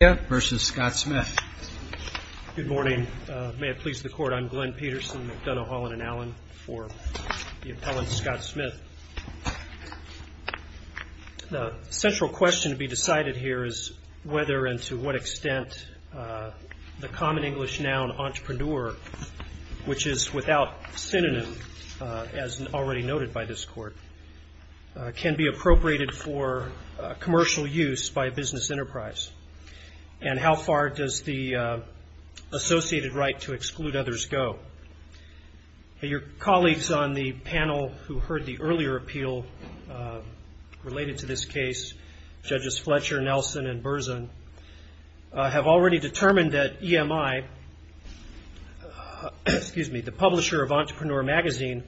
The central question to be decided here is whether and to what extent the common English noun entrepreneur, which is without synonym as already noted by this Court, can be appropriated for commercial use by a business enterprise, and how far does the associated right to exclude others go? Your colleagues on the panel who heard the earlier appeal related to this case, Judges Fletcher, Nelson, and Berzin, have already determined that EMI, the publisher of Entrepreneur Magazine,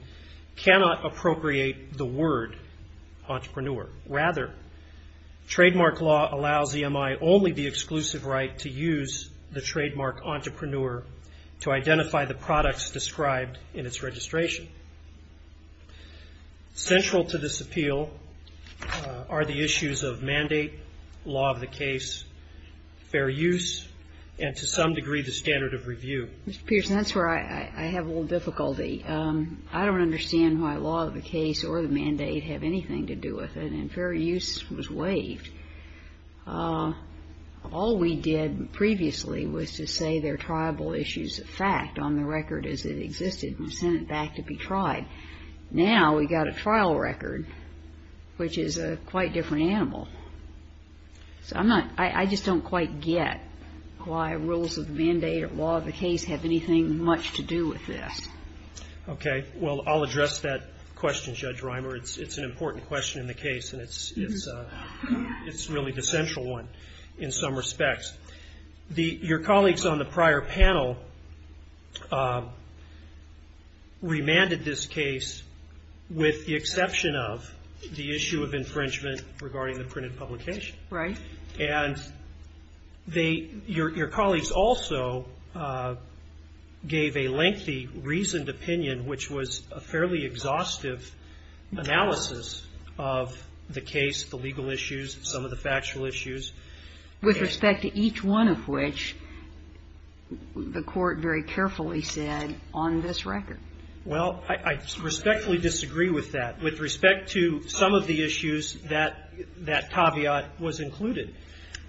cannot appropriate the word entrepreneur. Rather, trademark law allows EMI only the exclusive right to use the trademark entrepreneur to identify the products described in its registration. Central to this appeal are the issues of mandate, law of the case, fair use, and to some degree the standard of review. Mr. Peterson, that's where I have a little difficulty. I don't understand why law of the case or the mandate have anything to do with it, and fair use was waived. All we did previously was to say they're triable issues of fact on the record as it existed and send it back to be tried. Now we've got a trial record, which is a quite different animal. So I'm not, I just don't quite get why rules of mandate or law of the case have anything much to do with this. Okay, well I'll address that question, Judge Reimer. It's an important question in the case, and it's really the central one in some respects. Your colleagues on the prior panel remanded this case with the exception of the issue of infringement regarding the printed publication. Right. And they, your colleagues also gave a lengthy reasoned opinion, which was a fairly exhaustive analysis of the case, the legal issues, some of the factual issues. With respect to each one of which, the Court very carefully said on this record. Well, I respectfully disagree with that. With respect to some of the issues, that caveat was included.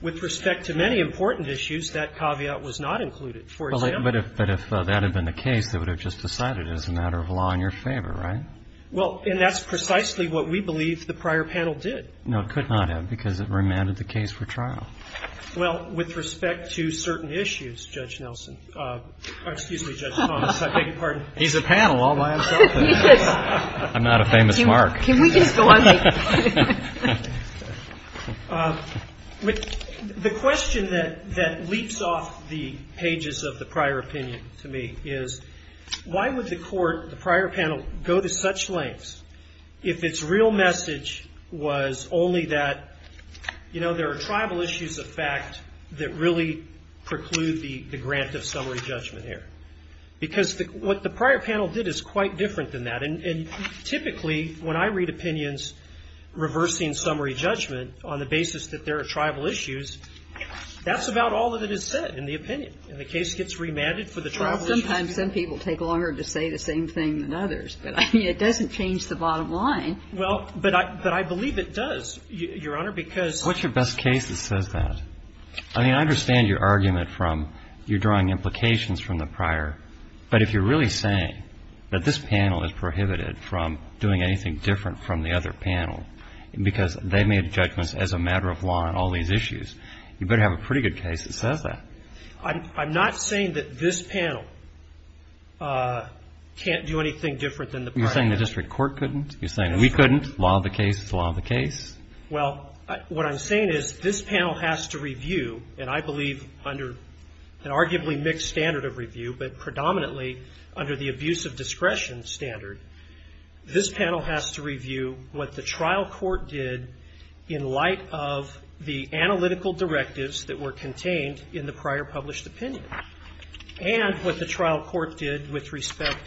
With respect to many important issues, that caveat was not included. For example. But if that had been the case, they would have just decided it was a matter of law in your favor, right? Well, and that's precisely what we believe the prior panel did. No, it could not have because it remanded the case for trial. Well, with respect to certain issues, Judge Nelson, or excuse me, Judge Thomas, I beg your pardon. He's a panel all by himself. I'm not a famous mark. Can we just go on? The question that leaps off the pages of the prior opinion to me is, why would the Court, the prior panel, go to such lengths if its real message was only that, you know, there are tribal issues of fact that really preclude the grant of summary judgment here? Because what the prior panel did is quite different than that. And typically, when I read opinions reversing summary judgment on the basis that there are tribal issues, that's about all that it has said in the opinion. And the case gets remanded for the tribal issue. Sometimes some people take longer to say the same thing than others. But, I mean, it doesn't change the bottom line. Well, but I believe it does, Your Honor, because What's your best case that says that? I mean, I understand your argument from you're drawing implications from the prior. But if you're really saying that this panel is prohibited from doing anything different from the other panel, because they made judgments as a matter of law on all these issues, you better have a pretty good case that says that. I'm not saying that this panel can't do anything different than the prior panel. You're saying the district court couldn't? You're saying we couldn't? Law of the case is the law of the case? Well, what I'm saying is this panel has to review, and I believe under an arguably mixed standard of review, but predominantly under the abuse of discretion standard, this panel has to review what the trial court did in light of the analytical directives that were contained in the prior published opinion. And what the trial court did with respect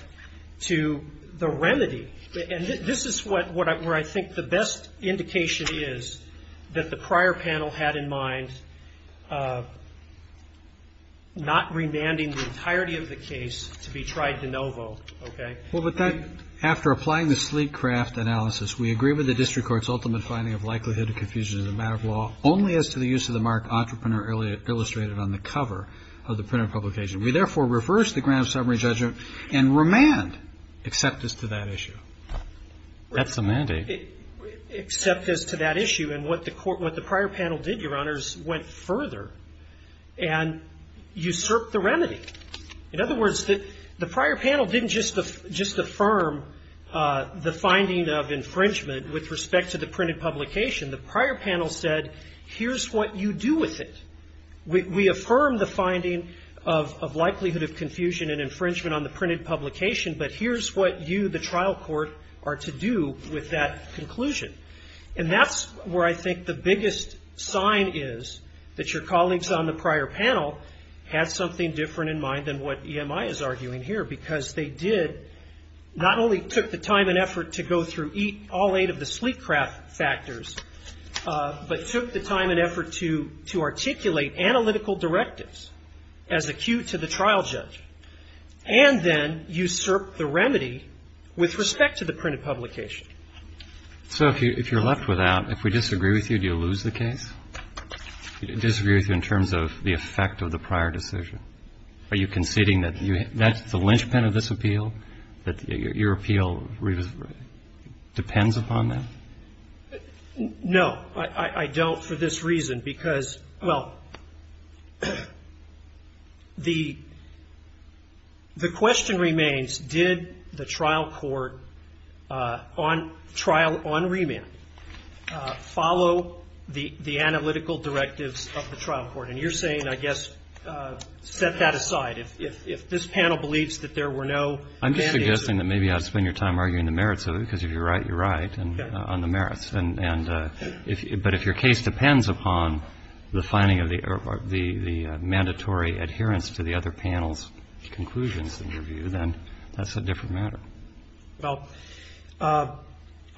to the remedy, and this is where I think the best indication is that the prior panel had in mind not remanding the entirety of the case to be tried de novo, okay? Well, but that, after applying the sleek craft analysis, we agree with the district court's ultimate finding of likelihood of confusion as a matter of law only as to the use of the mark entrepreneur illustrated on the cover of the printed publication. We therefore reverse the grand summary judgment and remand except as to that issue. That's a mandate. Except as to that issue. And what the prior panel did, Your Honors, went further and usurped the remedy. In other words, the prior panel didn't just affirm the finding of infringement with respect to the printed publication. The prior panel said, here's what you do with it. We affirm the finding of likelihood of confusion and infringement on the printed publication, but here's what you, the trial court, are to do with that conclusion. And that's where I think the biggest sign is that your colleagues on the prior panel had something different in mind than what EMI is arguing here. Because they did not only took the time and effort to go through all eight of the sleek factors, but took the time and effort to articulate analytical directives as acute to the trial judge, and then usurped the remedy with respect to the printed publication. So if you're left without, if we disagree with you, do you lose the case? Disagree with you in terms of the effect of the prior decision? Are you conceding that that's the linchpin of this appeal, that your appeal depends upon that? No. I don't for this reason, because, well, the question remains, did the trial court on trial, on remand, follow the analytical directives of the trial court? And you're saying, I guess, set that aside. If this panel believes that there were no mandates. I'm just suggesting that maybe you ought to spend your time arguing the merits of it, because if you're right, you're right on the merits. But if your case depends upon the finding of the mandatory adherence to the other panel's conclusions, in your view, then that's a different matter. Well,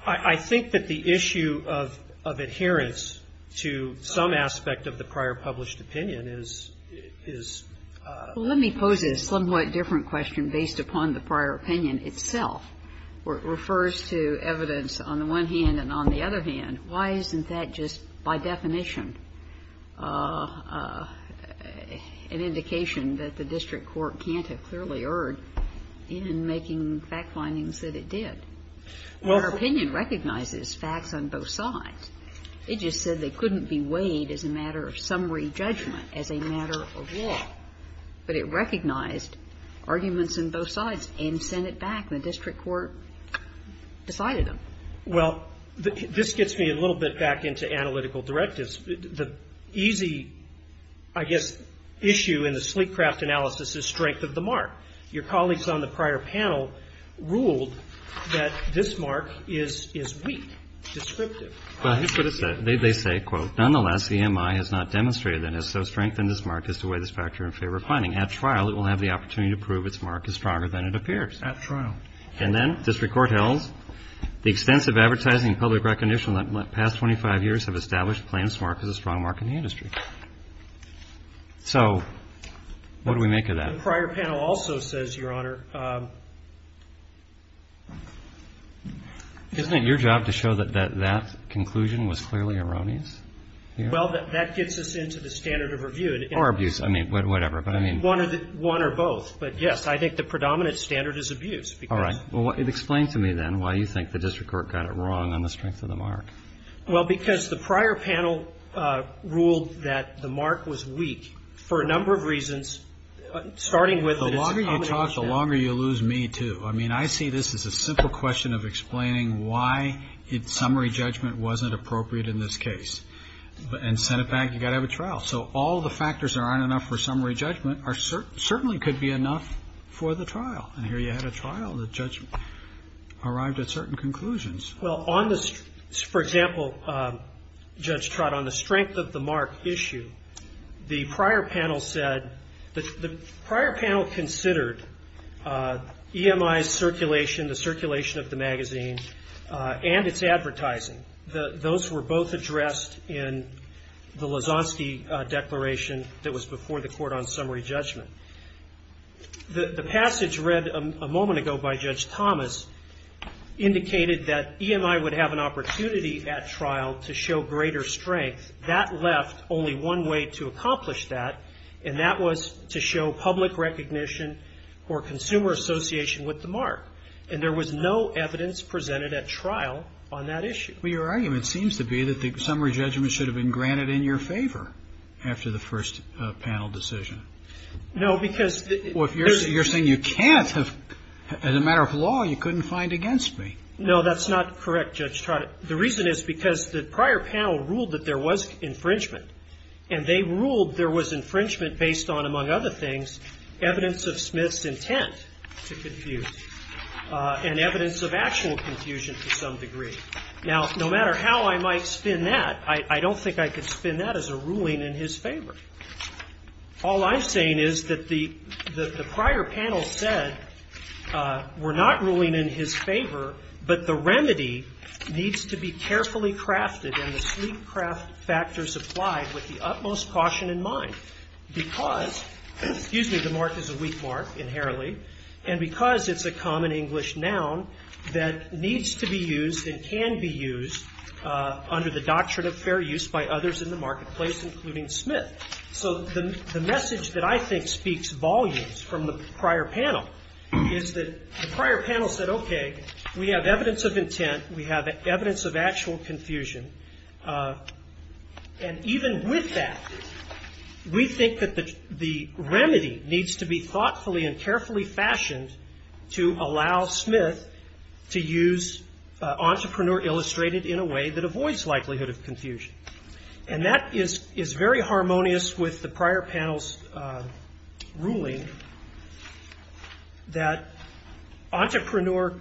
I think that the issue of adherence to some aspect of the prior published opinion is. Well, let me pose a somewhat different question based upon the prior opinion itself. It refers to evidence on the one hand and on the other hand. Why isn't that just by definition an indication that the district court can't have clearly erred in making fact findings that it did? Our opinion recognizes facts on both sides. It just said they couldn't be weighed as a matter of summary judgment, as a matter of law. But it recognized arguments on both sides and sent it back. The district court decided them. Well, this gets me a little bit back into analytical directives. The easy, I guess, issue in the Sleekcraft analysis is strength of the mark. Your colleagues on the prior panel ruled that this mark is weak, descriptive. Well, that's what it said. They say, quote, At trial, it will have the opportunity to prove its mark is stronger than it appears. At trial. And then district court held the extensive advertising and public recognition in the past 25 years have established the plaintiff's mark as a strong mark in the industry. So what do we make of that? The prior panel also says, Your Honor. Isn't it your job to show that that conclusion was clearly erroneous? Well, that gets us into the standard of review. Or abuse. I mean, whatever. One or both. But, yes, I think the predominant standard is abuse. All right. Well, explain to me, then, why you think the district court got it wrong on the strength of the mark. Well, because the prior panel ruled that the mark was weak for a number of reasons, starting with its accommodation. The longer you talk, the longer you lose me, too. I mean, I see this as a simple question of explaining why its summary judgment wasn't appropriate in this case. And sent it back, you've got to have a trial. So all the factors that aren't enough for summary judgment certainly could be enough for the trial. And here you had a trial. The judge arrived at certain conclusions. Well, on the, for example, Judge Trott, on the strength of the mark issue, the prior panel said, the prior panel considered EMI's circulation, the circulation of the mark. Those were both addressed in the Lozanski declaration that was before the court on summary judgment. The passage read a moment ago by Judge Thomas indicated that EMI would have an opportunity at trial to show greater strength. That left only one way to accomplish that, and that was to show public recognition or consumer association with the mark. And there was no evidence presented at trial on that issue. Well, your argument seems to be that the summary judgment should have been granted in your favor after the first panel decision. No, because the Well, you're saying you can't have, as a matter of law, you couldn't find against me. No, that's not correct, Judge Trott. The reason is because the prior panel ruled that there was infringement. And they ruled there was infringement based on, among other things, evidence of Smith's intent to confuse and evidence of actual confusion to some degree. Now, no matter how I might spin that, I don't think I could spin that as a ruling in his favor. All I'm saying is that the prior panel said we're not ruling in his favor, but the remedy needs to be carefully crafted and the sleek craft factors applied with the utmost caution in mind because, excuse me, the mark is a weak mark inherently, and because it's a common English noun that needs to be used and can be used under the doctrine of fair use by others in the marketplace, including Smith. So the message that I think speaks volumes from the prior panel is that the prior panel said, okay, we have evidence of intent, we have evidence of actual confusion, and even with that, we think that the remedy needs to be thoughtfully and carefully fashioned to allow Smith to use entrepreneur illustrated in a way that avoids likelihood of confusion. And that is very harmonious with the prior panel's ruling that entrepreneur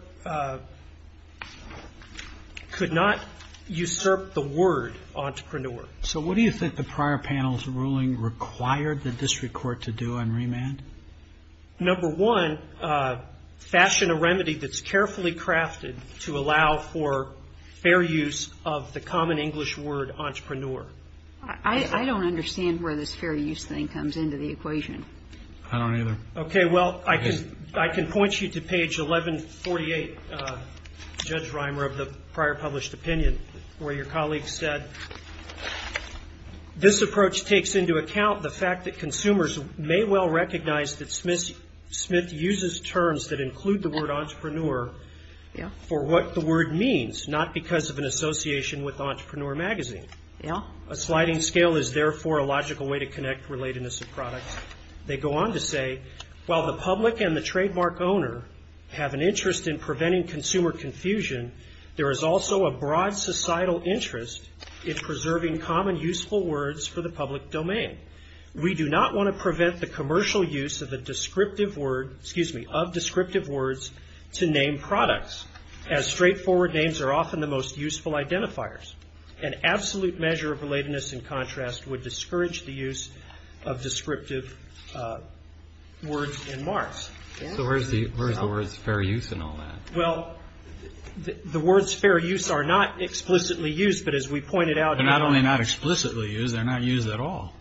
could not usurp the word entrepreneur. So what do you think the prior panel's ruling required the district court to do on remand? Number one, fashion a remedy that's carefully crafted to allow for fair use of the common English word entrepreneur. I don't understand where this fair use thing comes into the equation. I don't either. Okay. Well, I can point you to page 1148, Judge Reimer, of the prior published opinion where your colleague said, this approach takes into account the fact that consumers may well recognize that Smith uses terms that include the word entrepreneur for what the word means, not because of an association with entrepreneur magazine. A sliding scale is therefore a logical way to connect relatedness of products. They go on to say, while the public and the trademark owner have an interest in preventing consumer confusion, there is also a broad societal interest in preserving common useful words for the public domain. We do not want to prevent the commercial use of a descriptive word, excuse me, of descriptive words to name products, as straightforward names are often the most useful identifiers. An absolute measure of relatedness and contrast would discourage the use of descriptive words and marks. So where's the words fair use in all that? Well, the words fair use are not explicitly used, but as we pointed out they're not only not explicitly used, they're not used at all.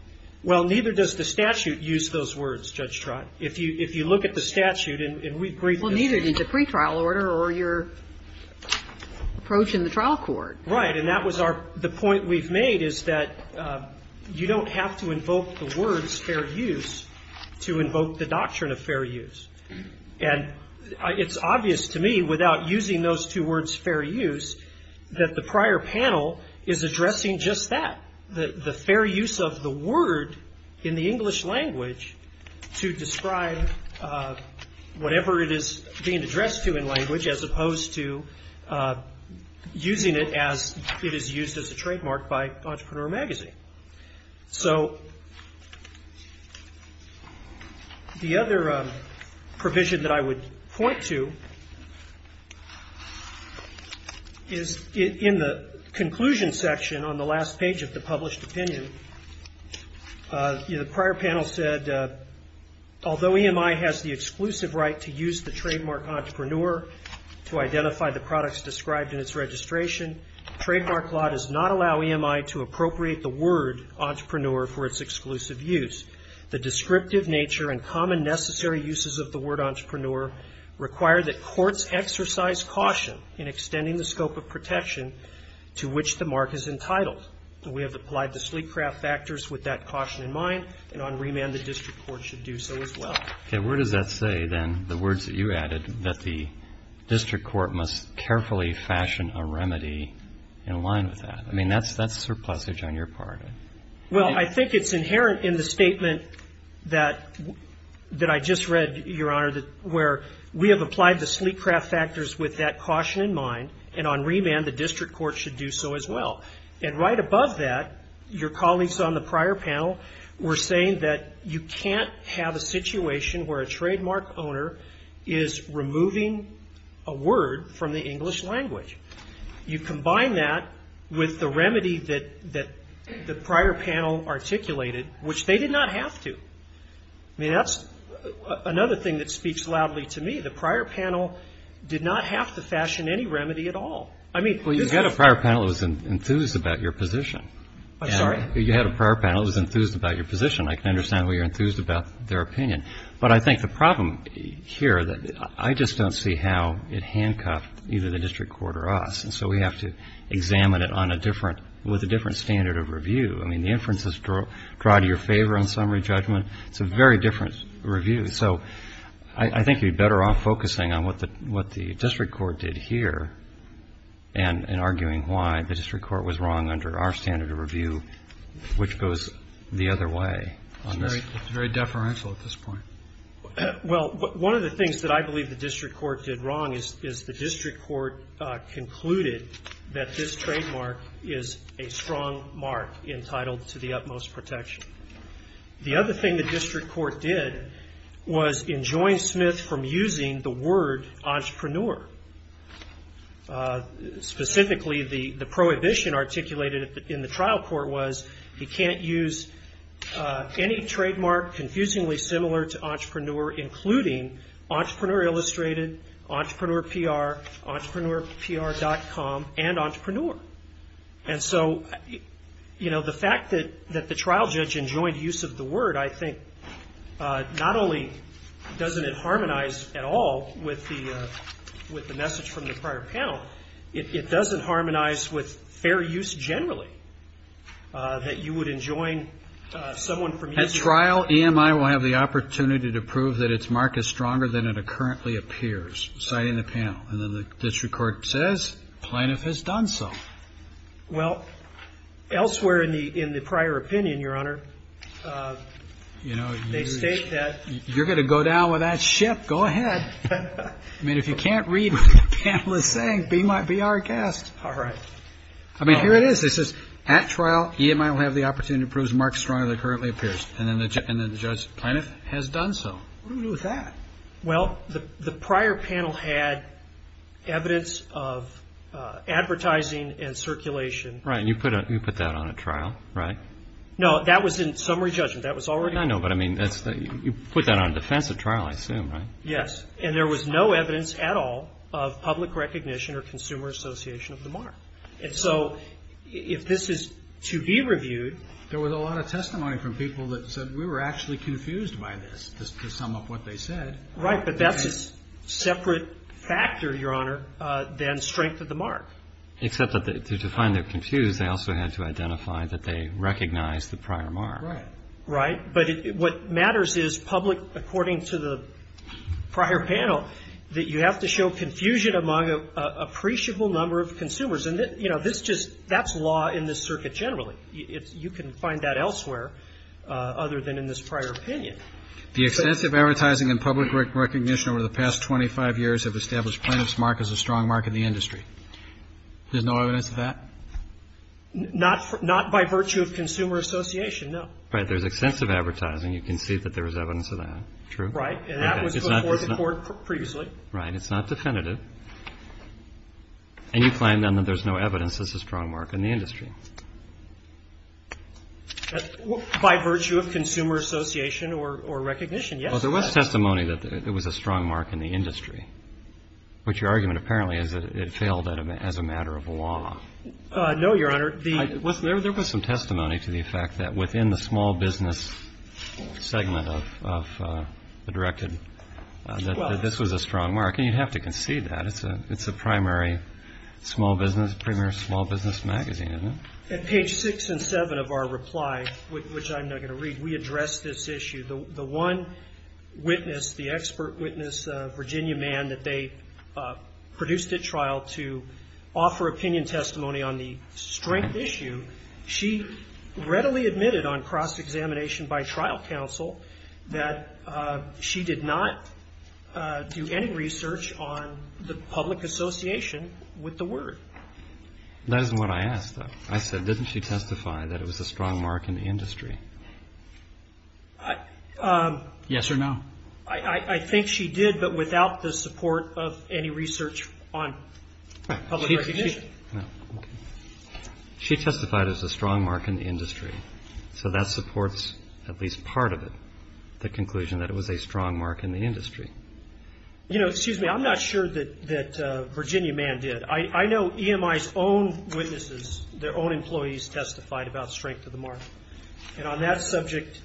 Well, neither does the statute use those words, Judge Trott. If you look at the statute, and we've briefed this. Well, neither did the pretrial order or your approach in the trial court. Right. And that was our the point we've made is that you don't have to invoke the words fair use to invoke the doctrine of fair use. And it's obvious to me, without using those two words fair use, that the prior panel is addressing just that, the fair use of the word in the English language to describe whatever it is being addressed to in language as opposed to using it as it is used as a trademark by Entrepreneur Magazine. So the other provision that I would point to is in the conclusion section on the last page of the published opinion, the prior panel said, although EMI has the exclusive right to use the trademark Entrepreneur to identify the products described in its registration, trademark law does not allow EMI to appropriate the word Entrepreneur for its exclusive use. The descriptive nature and common necessary uses of the word Entrepreneur require that courts exercise caution in extending the scope of protection to which the mark is entitled. And we have applied the sleek craft factors with that caution in mind, and on remand the district court should do so as well. Okay. Where does that say, then, the words that you added, that the district court must carefully fashion a remedy in line with that? I mean, that's surplusage on your part. Well, I think it's inherent in the statement that I just read, Your Honor, where we have applied the sleek craft factors with that caution in mind, and on remand the district court should do so as well. And right above that, your colleagues on the prior panel were saying that you can't have a situation where a trademark owner is removing a word from the English language. You combine that with the remedy that the prior panel articulated, which they did not have to. I mean, that's another thing that speaks loudly to me. The prior panel did not have to fashion any remedy at all. I mean, this is — Well, you had a prior panel that was enthused about your position. I'm sorry? You had a prior panel that was enthused about your position. I can understand why you're enthused about their opinion. But I think the problem here, I just don't see how it handcuffed either the district court or us. And so we have to examine it on a different — with a different standard of review. I mean, the inferences draw to your favor on summary judgment. It's a very different review. So I think you're better off focusing on what the district court did here and arguing why the district court was wrong under our standard of review, which goes the other way. It's very deferential at this point. Well, one of the things that I believe the district court did wrong is the district court concluded that this trademark is a strong mark entitled to the utmost protection. The other thing the district court did was enjoin Smith from using the word entrepreneur. Specifically, the prohibition articulated in the trial court was he can't use any trademark confusingly similar to entrepreneur, including entrepreneur illustrated, entrepreneur PR, entrepreneur PR.com, and entrepreneur. And so, you know, the fact that the trial judge enjoined use of the word, I think, not only doesn't it harmonize at all with the message from the prior panel, it doesn't harmonize with fair use generally, that you would enjoin someone from using the word. At trial, EMI will have the opportunity to prove that its mark is stronger than it currently appears, citing the panel. And then the district court says plaintiff has done so. Well, elsewhere in the prior opinion, Your Honor, they state that — You're going to go down with that ship. Go ahead. I mean, if you can't read what the panel is saying, be our guest. All right. I mean, here it is. It says, at trial, EMI will have the opportunity to prove the mark is stronger than it currently appears. And then the judge plaintiff has done so. What do we do with that? Well, the prior panel had evidence of advertising and circulation. Right. And you put that on at trial, right? No, that was in summary judgment. That was already — I know, but I mean, you put that on a defensive trial, I assume, right? Yes. And there was no evidence at all of public recognition or consumer association of the mark. And so if this is to be reviewed — There was a lot of testimony from people that said we were actually confused by this, to sum up what they said. Right. But that's a separate factor, Your Honor, than strength of the mark. Except that to define they're confused, they also had to identify that they recognized the prior mark. Right. But what matters is public, according to the prior panel, that you have to show confusion among an appreciable number of consumers. And, you know, this just — that's law in this circuit generally. You can find that elsewhere other than in this prior opinion. The excessive advertising and public recognition over the past 25 years have established plaintiff's mark as a strong mark in the industry. There's no evidence of that? Not by virtue of consumer association, no. Right. There's extensive advertising. You can see that there's evidence of that. True? Right. And that was before the Court previously. Right. It's not definitive. And you claim, then, that there's no evidence that it's a strong mark in the industry. By virtue of consumer association or recognition, yes. Well, there was testimony that it was a strong mark in the industry, which your argument apparently is that it failed as a matter of law. No, Your Honor. There was some testimony to the effect that within the small business segment of the directed that this was a strong mark. And you'd have to concede that. It's a primary small business, premier small business magazine, isn't it? At page 6 and 7 of our reply, which I'm not going to read, we addressed this issue. The one witness, the expert witness, Virginia Mann, that they produced at trial to offer opinion and testimony on the strength issue, she readily admitted on cross-examination by trial counsel that she did not do any research on the public association with the word. That isn't what I asked, though. I said, didn't she testify that it was a strong mark in the industry? Yes or no. I think she did, but without the support of any research on public recognition. She testified it was a strong mark in the industry. So that supports at least part of it, the conclusion that it was a strong mark in the industry. You know, excuse me, I'm not sure that Virginia Mann did. I know EMI's own witnesses, their own employees testified about strength of the mark. And on that subject,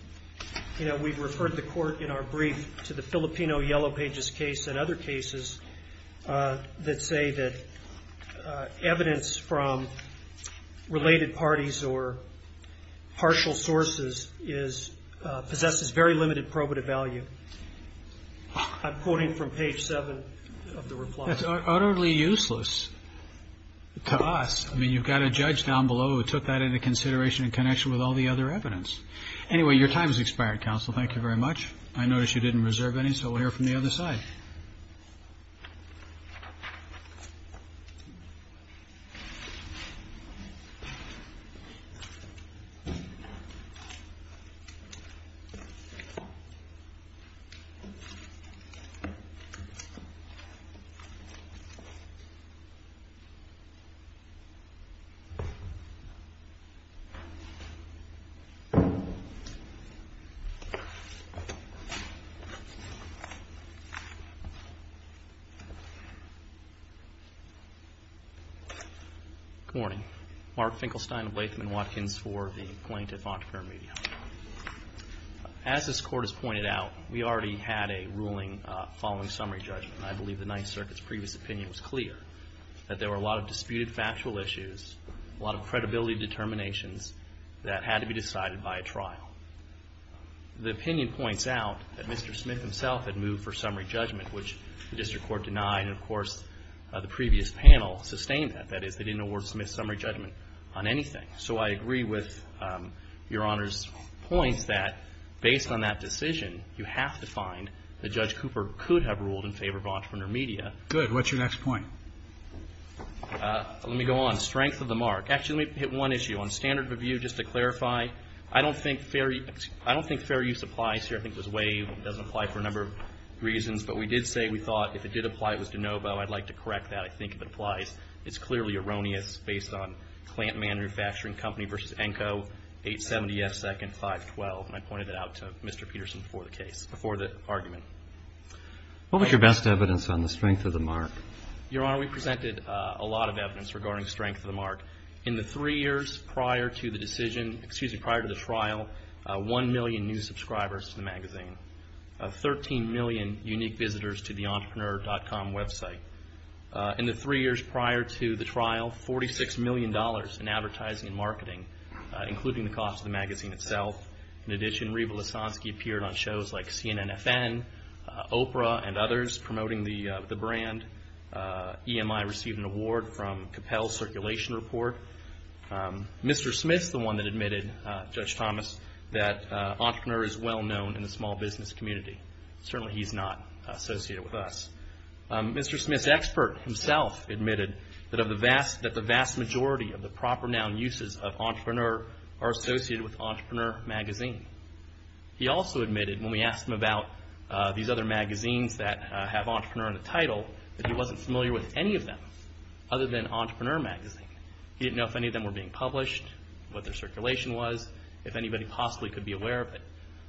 you know, we've referred the court in our brief to the Filipino Yellow Pages case and other cases that say that evidence from related parties or partial sources possesses very limited probative value. I'm quoting from page 7 of the reply. That's utterly useless to us. I mean, you've got a judge down below who took that into consideration in connection with all the other evidence. Anyway, your time has expired, counsel. Thank you very much. I notice you didn't reserve any, so we'll hear from the other side. Good morning. Mark Finkelstein of Latham & Watkins for the plaintiff, Montefiore Media. As this court has pointed out, we already had a ruling following summary judgment. And I believe the Ninth Circuit's previous opinion was clear, that there were a lot of disputed factual issues, a lot of credibility determinations that had to be decided by a trial. The opinion points out that Mr. Smith himself had moved for summary judgment, which the district court denied. And, of course, the previous panel sustained that. That is, they didn't award Smith summary judgment on anything. So I agree with Your Honor's points that based on that decision, you have to find that Judge Cooper could have ruled in favor of Entrepreneur Media. Good. What's your next point? Let me go on. Strength of the mark. Actually, let me hit one issue. On standard review, just to clarify, I don't think fair use applies here. I think it was Wave. It doesn't apply for a number of reasons. But we did say we thought if it did apply, it was DeNovo. I'd like to correct that. I think if it applies, it's clearly erroneous based on Klantman Manufacturing Company versus ENCO 870S 2nd 512. And I pointed that out to Mr. Peterson before the case, before the argument. What was your best evidence on the strength of the mark? Your Honor, we presented a lot of evidence regarding strength of the mark. In the three years prior to the decision, excuse me, prior to the trial, 1 million new subscribers to the magazine, 13 million unique visitors to the Entrepreneur.com website. In the three years prior to the trial, $46 million in advertising and marketing, including the cost of the magazine itself. In addition, Reba Lasansky appeared on shows like CNNFN, Oprah, and others promoting the brand. EMI received an award from Capel Circulation Report. Mr. Smith's the one that admitted, Judge Thomas, that entrepreneur is well known in the small business community. Certainly, he's not associated with us. Mr. Smith's expert himself admitted that the vast majority of the proper noun uses of entrepreneur are associated with Entrepreneur Magazine. He also admitted when we asked him about these other magazines that have entrepreneur in the title, that he wasn't familiar with any of them other than Entrepreneur Magazine. He didn't know if any of them were being published, what their circulation was, if anybody possibly could be aware of it.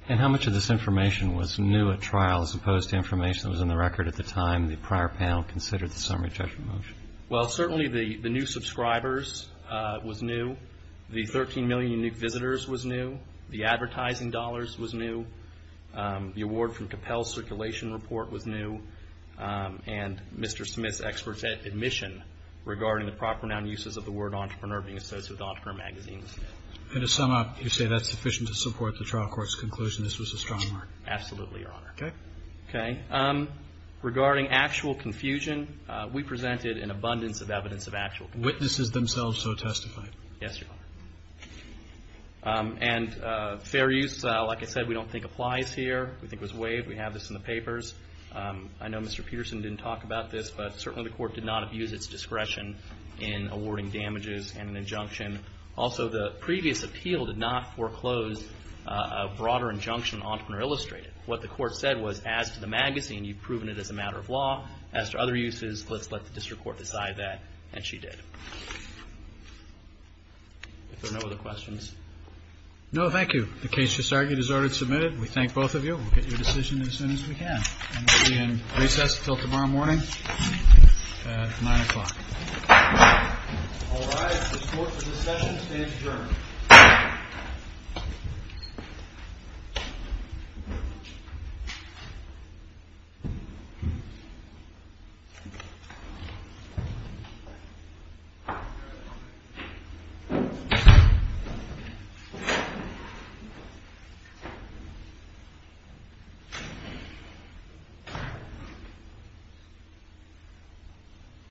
And how much of this information was new at trial as opposed to information that was in the record at the time the prior panel considered the summary judgment motion? Well, certainly the new subscribers was new. The 13 million unique visitors was new. The advertising dollars was new. The award from Capel Circulation Report was new. And Mr. Smith's expert's admission regarding the proper noun uses of the word entrepreneur being associated with Entrepreneur Magazine. And to sum up, you say that's sufficient to support the trial court's conclusion this was a strong mark? Absolutely, Your Honor. Okay. Okay. Regarding actual confusion, we presented an abundance of evidence of actual confusion. Witnesses themselves so testified. Yes, Your Honor. And fair use, like I said, we don't think applies here. We think it was waived. We have this in the papers. I know Mr. Peterson didn't talk about this, but certainly the court did not abuse its discretion in awarding damages and an injunction. Also, the previous appeal did not foreclose a broader injunction Entrepreneur Illustrated. What the court said was, as to the magazine, you've proven it as a matter of law. As to other uses, let's let the district court decide that. And she did. If there are no other questions. No, thank you. The case just argued is already submitted. We thank both of you. We'll get your decision as soon as we can. And we'll be in recess until tomorrow morning at 9 o'clock. All rise. The court for this session stands adjourned.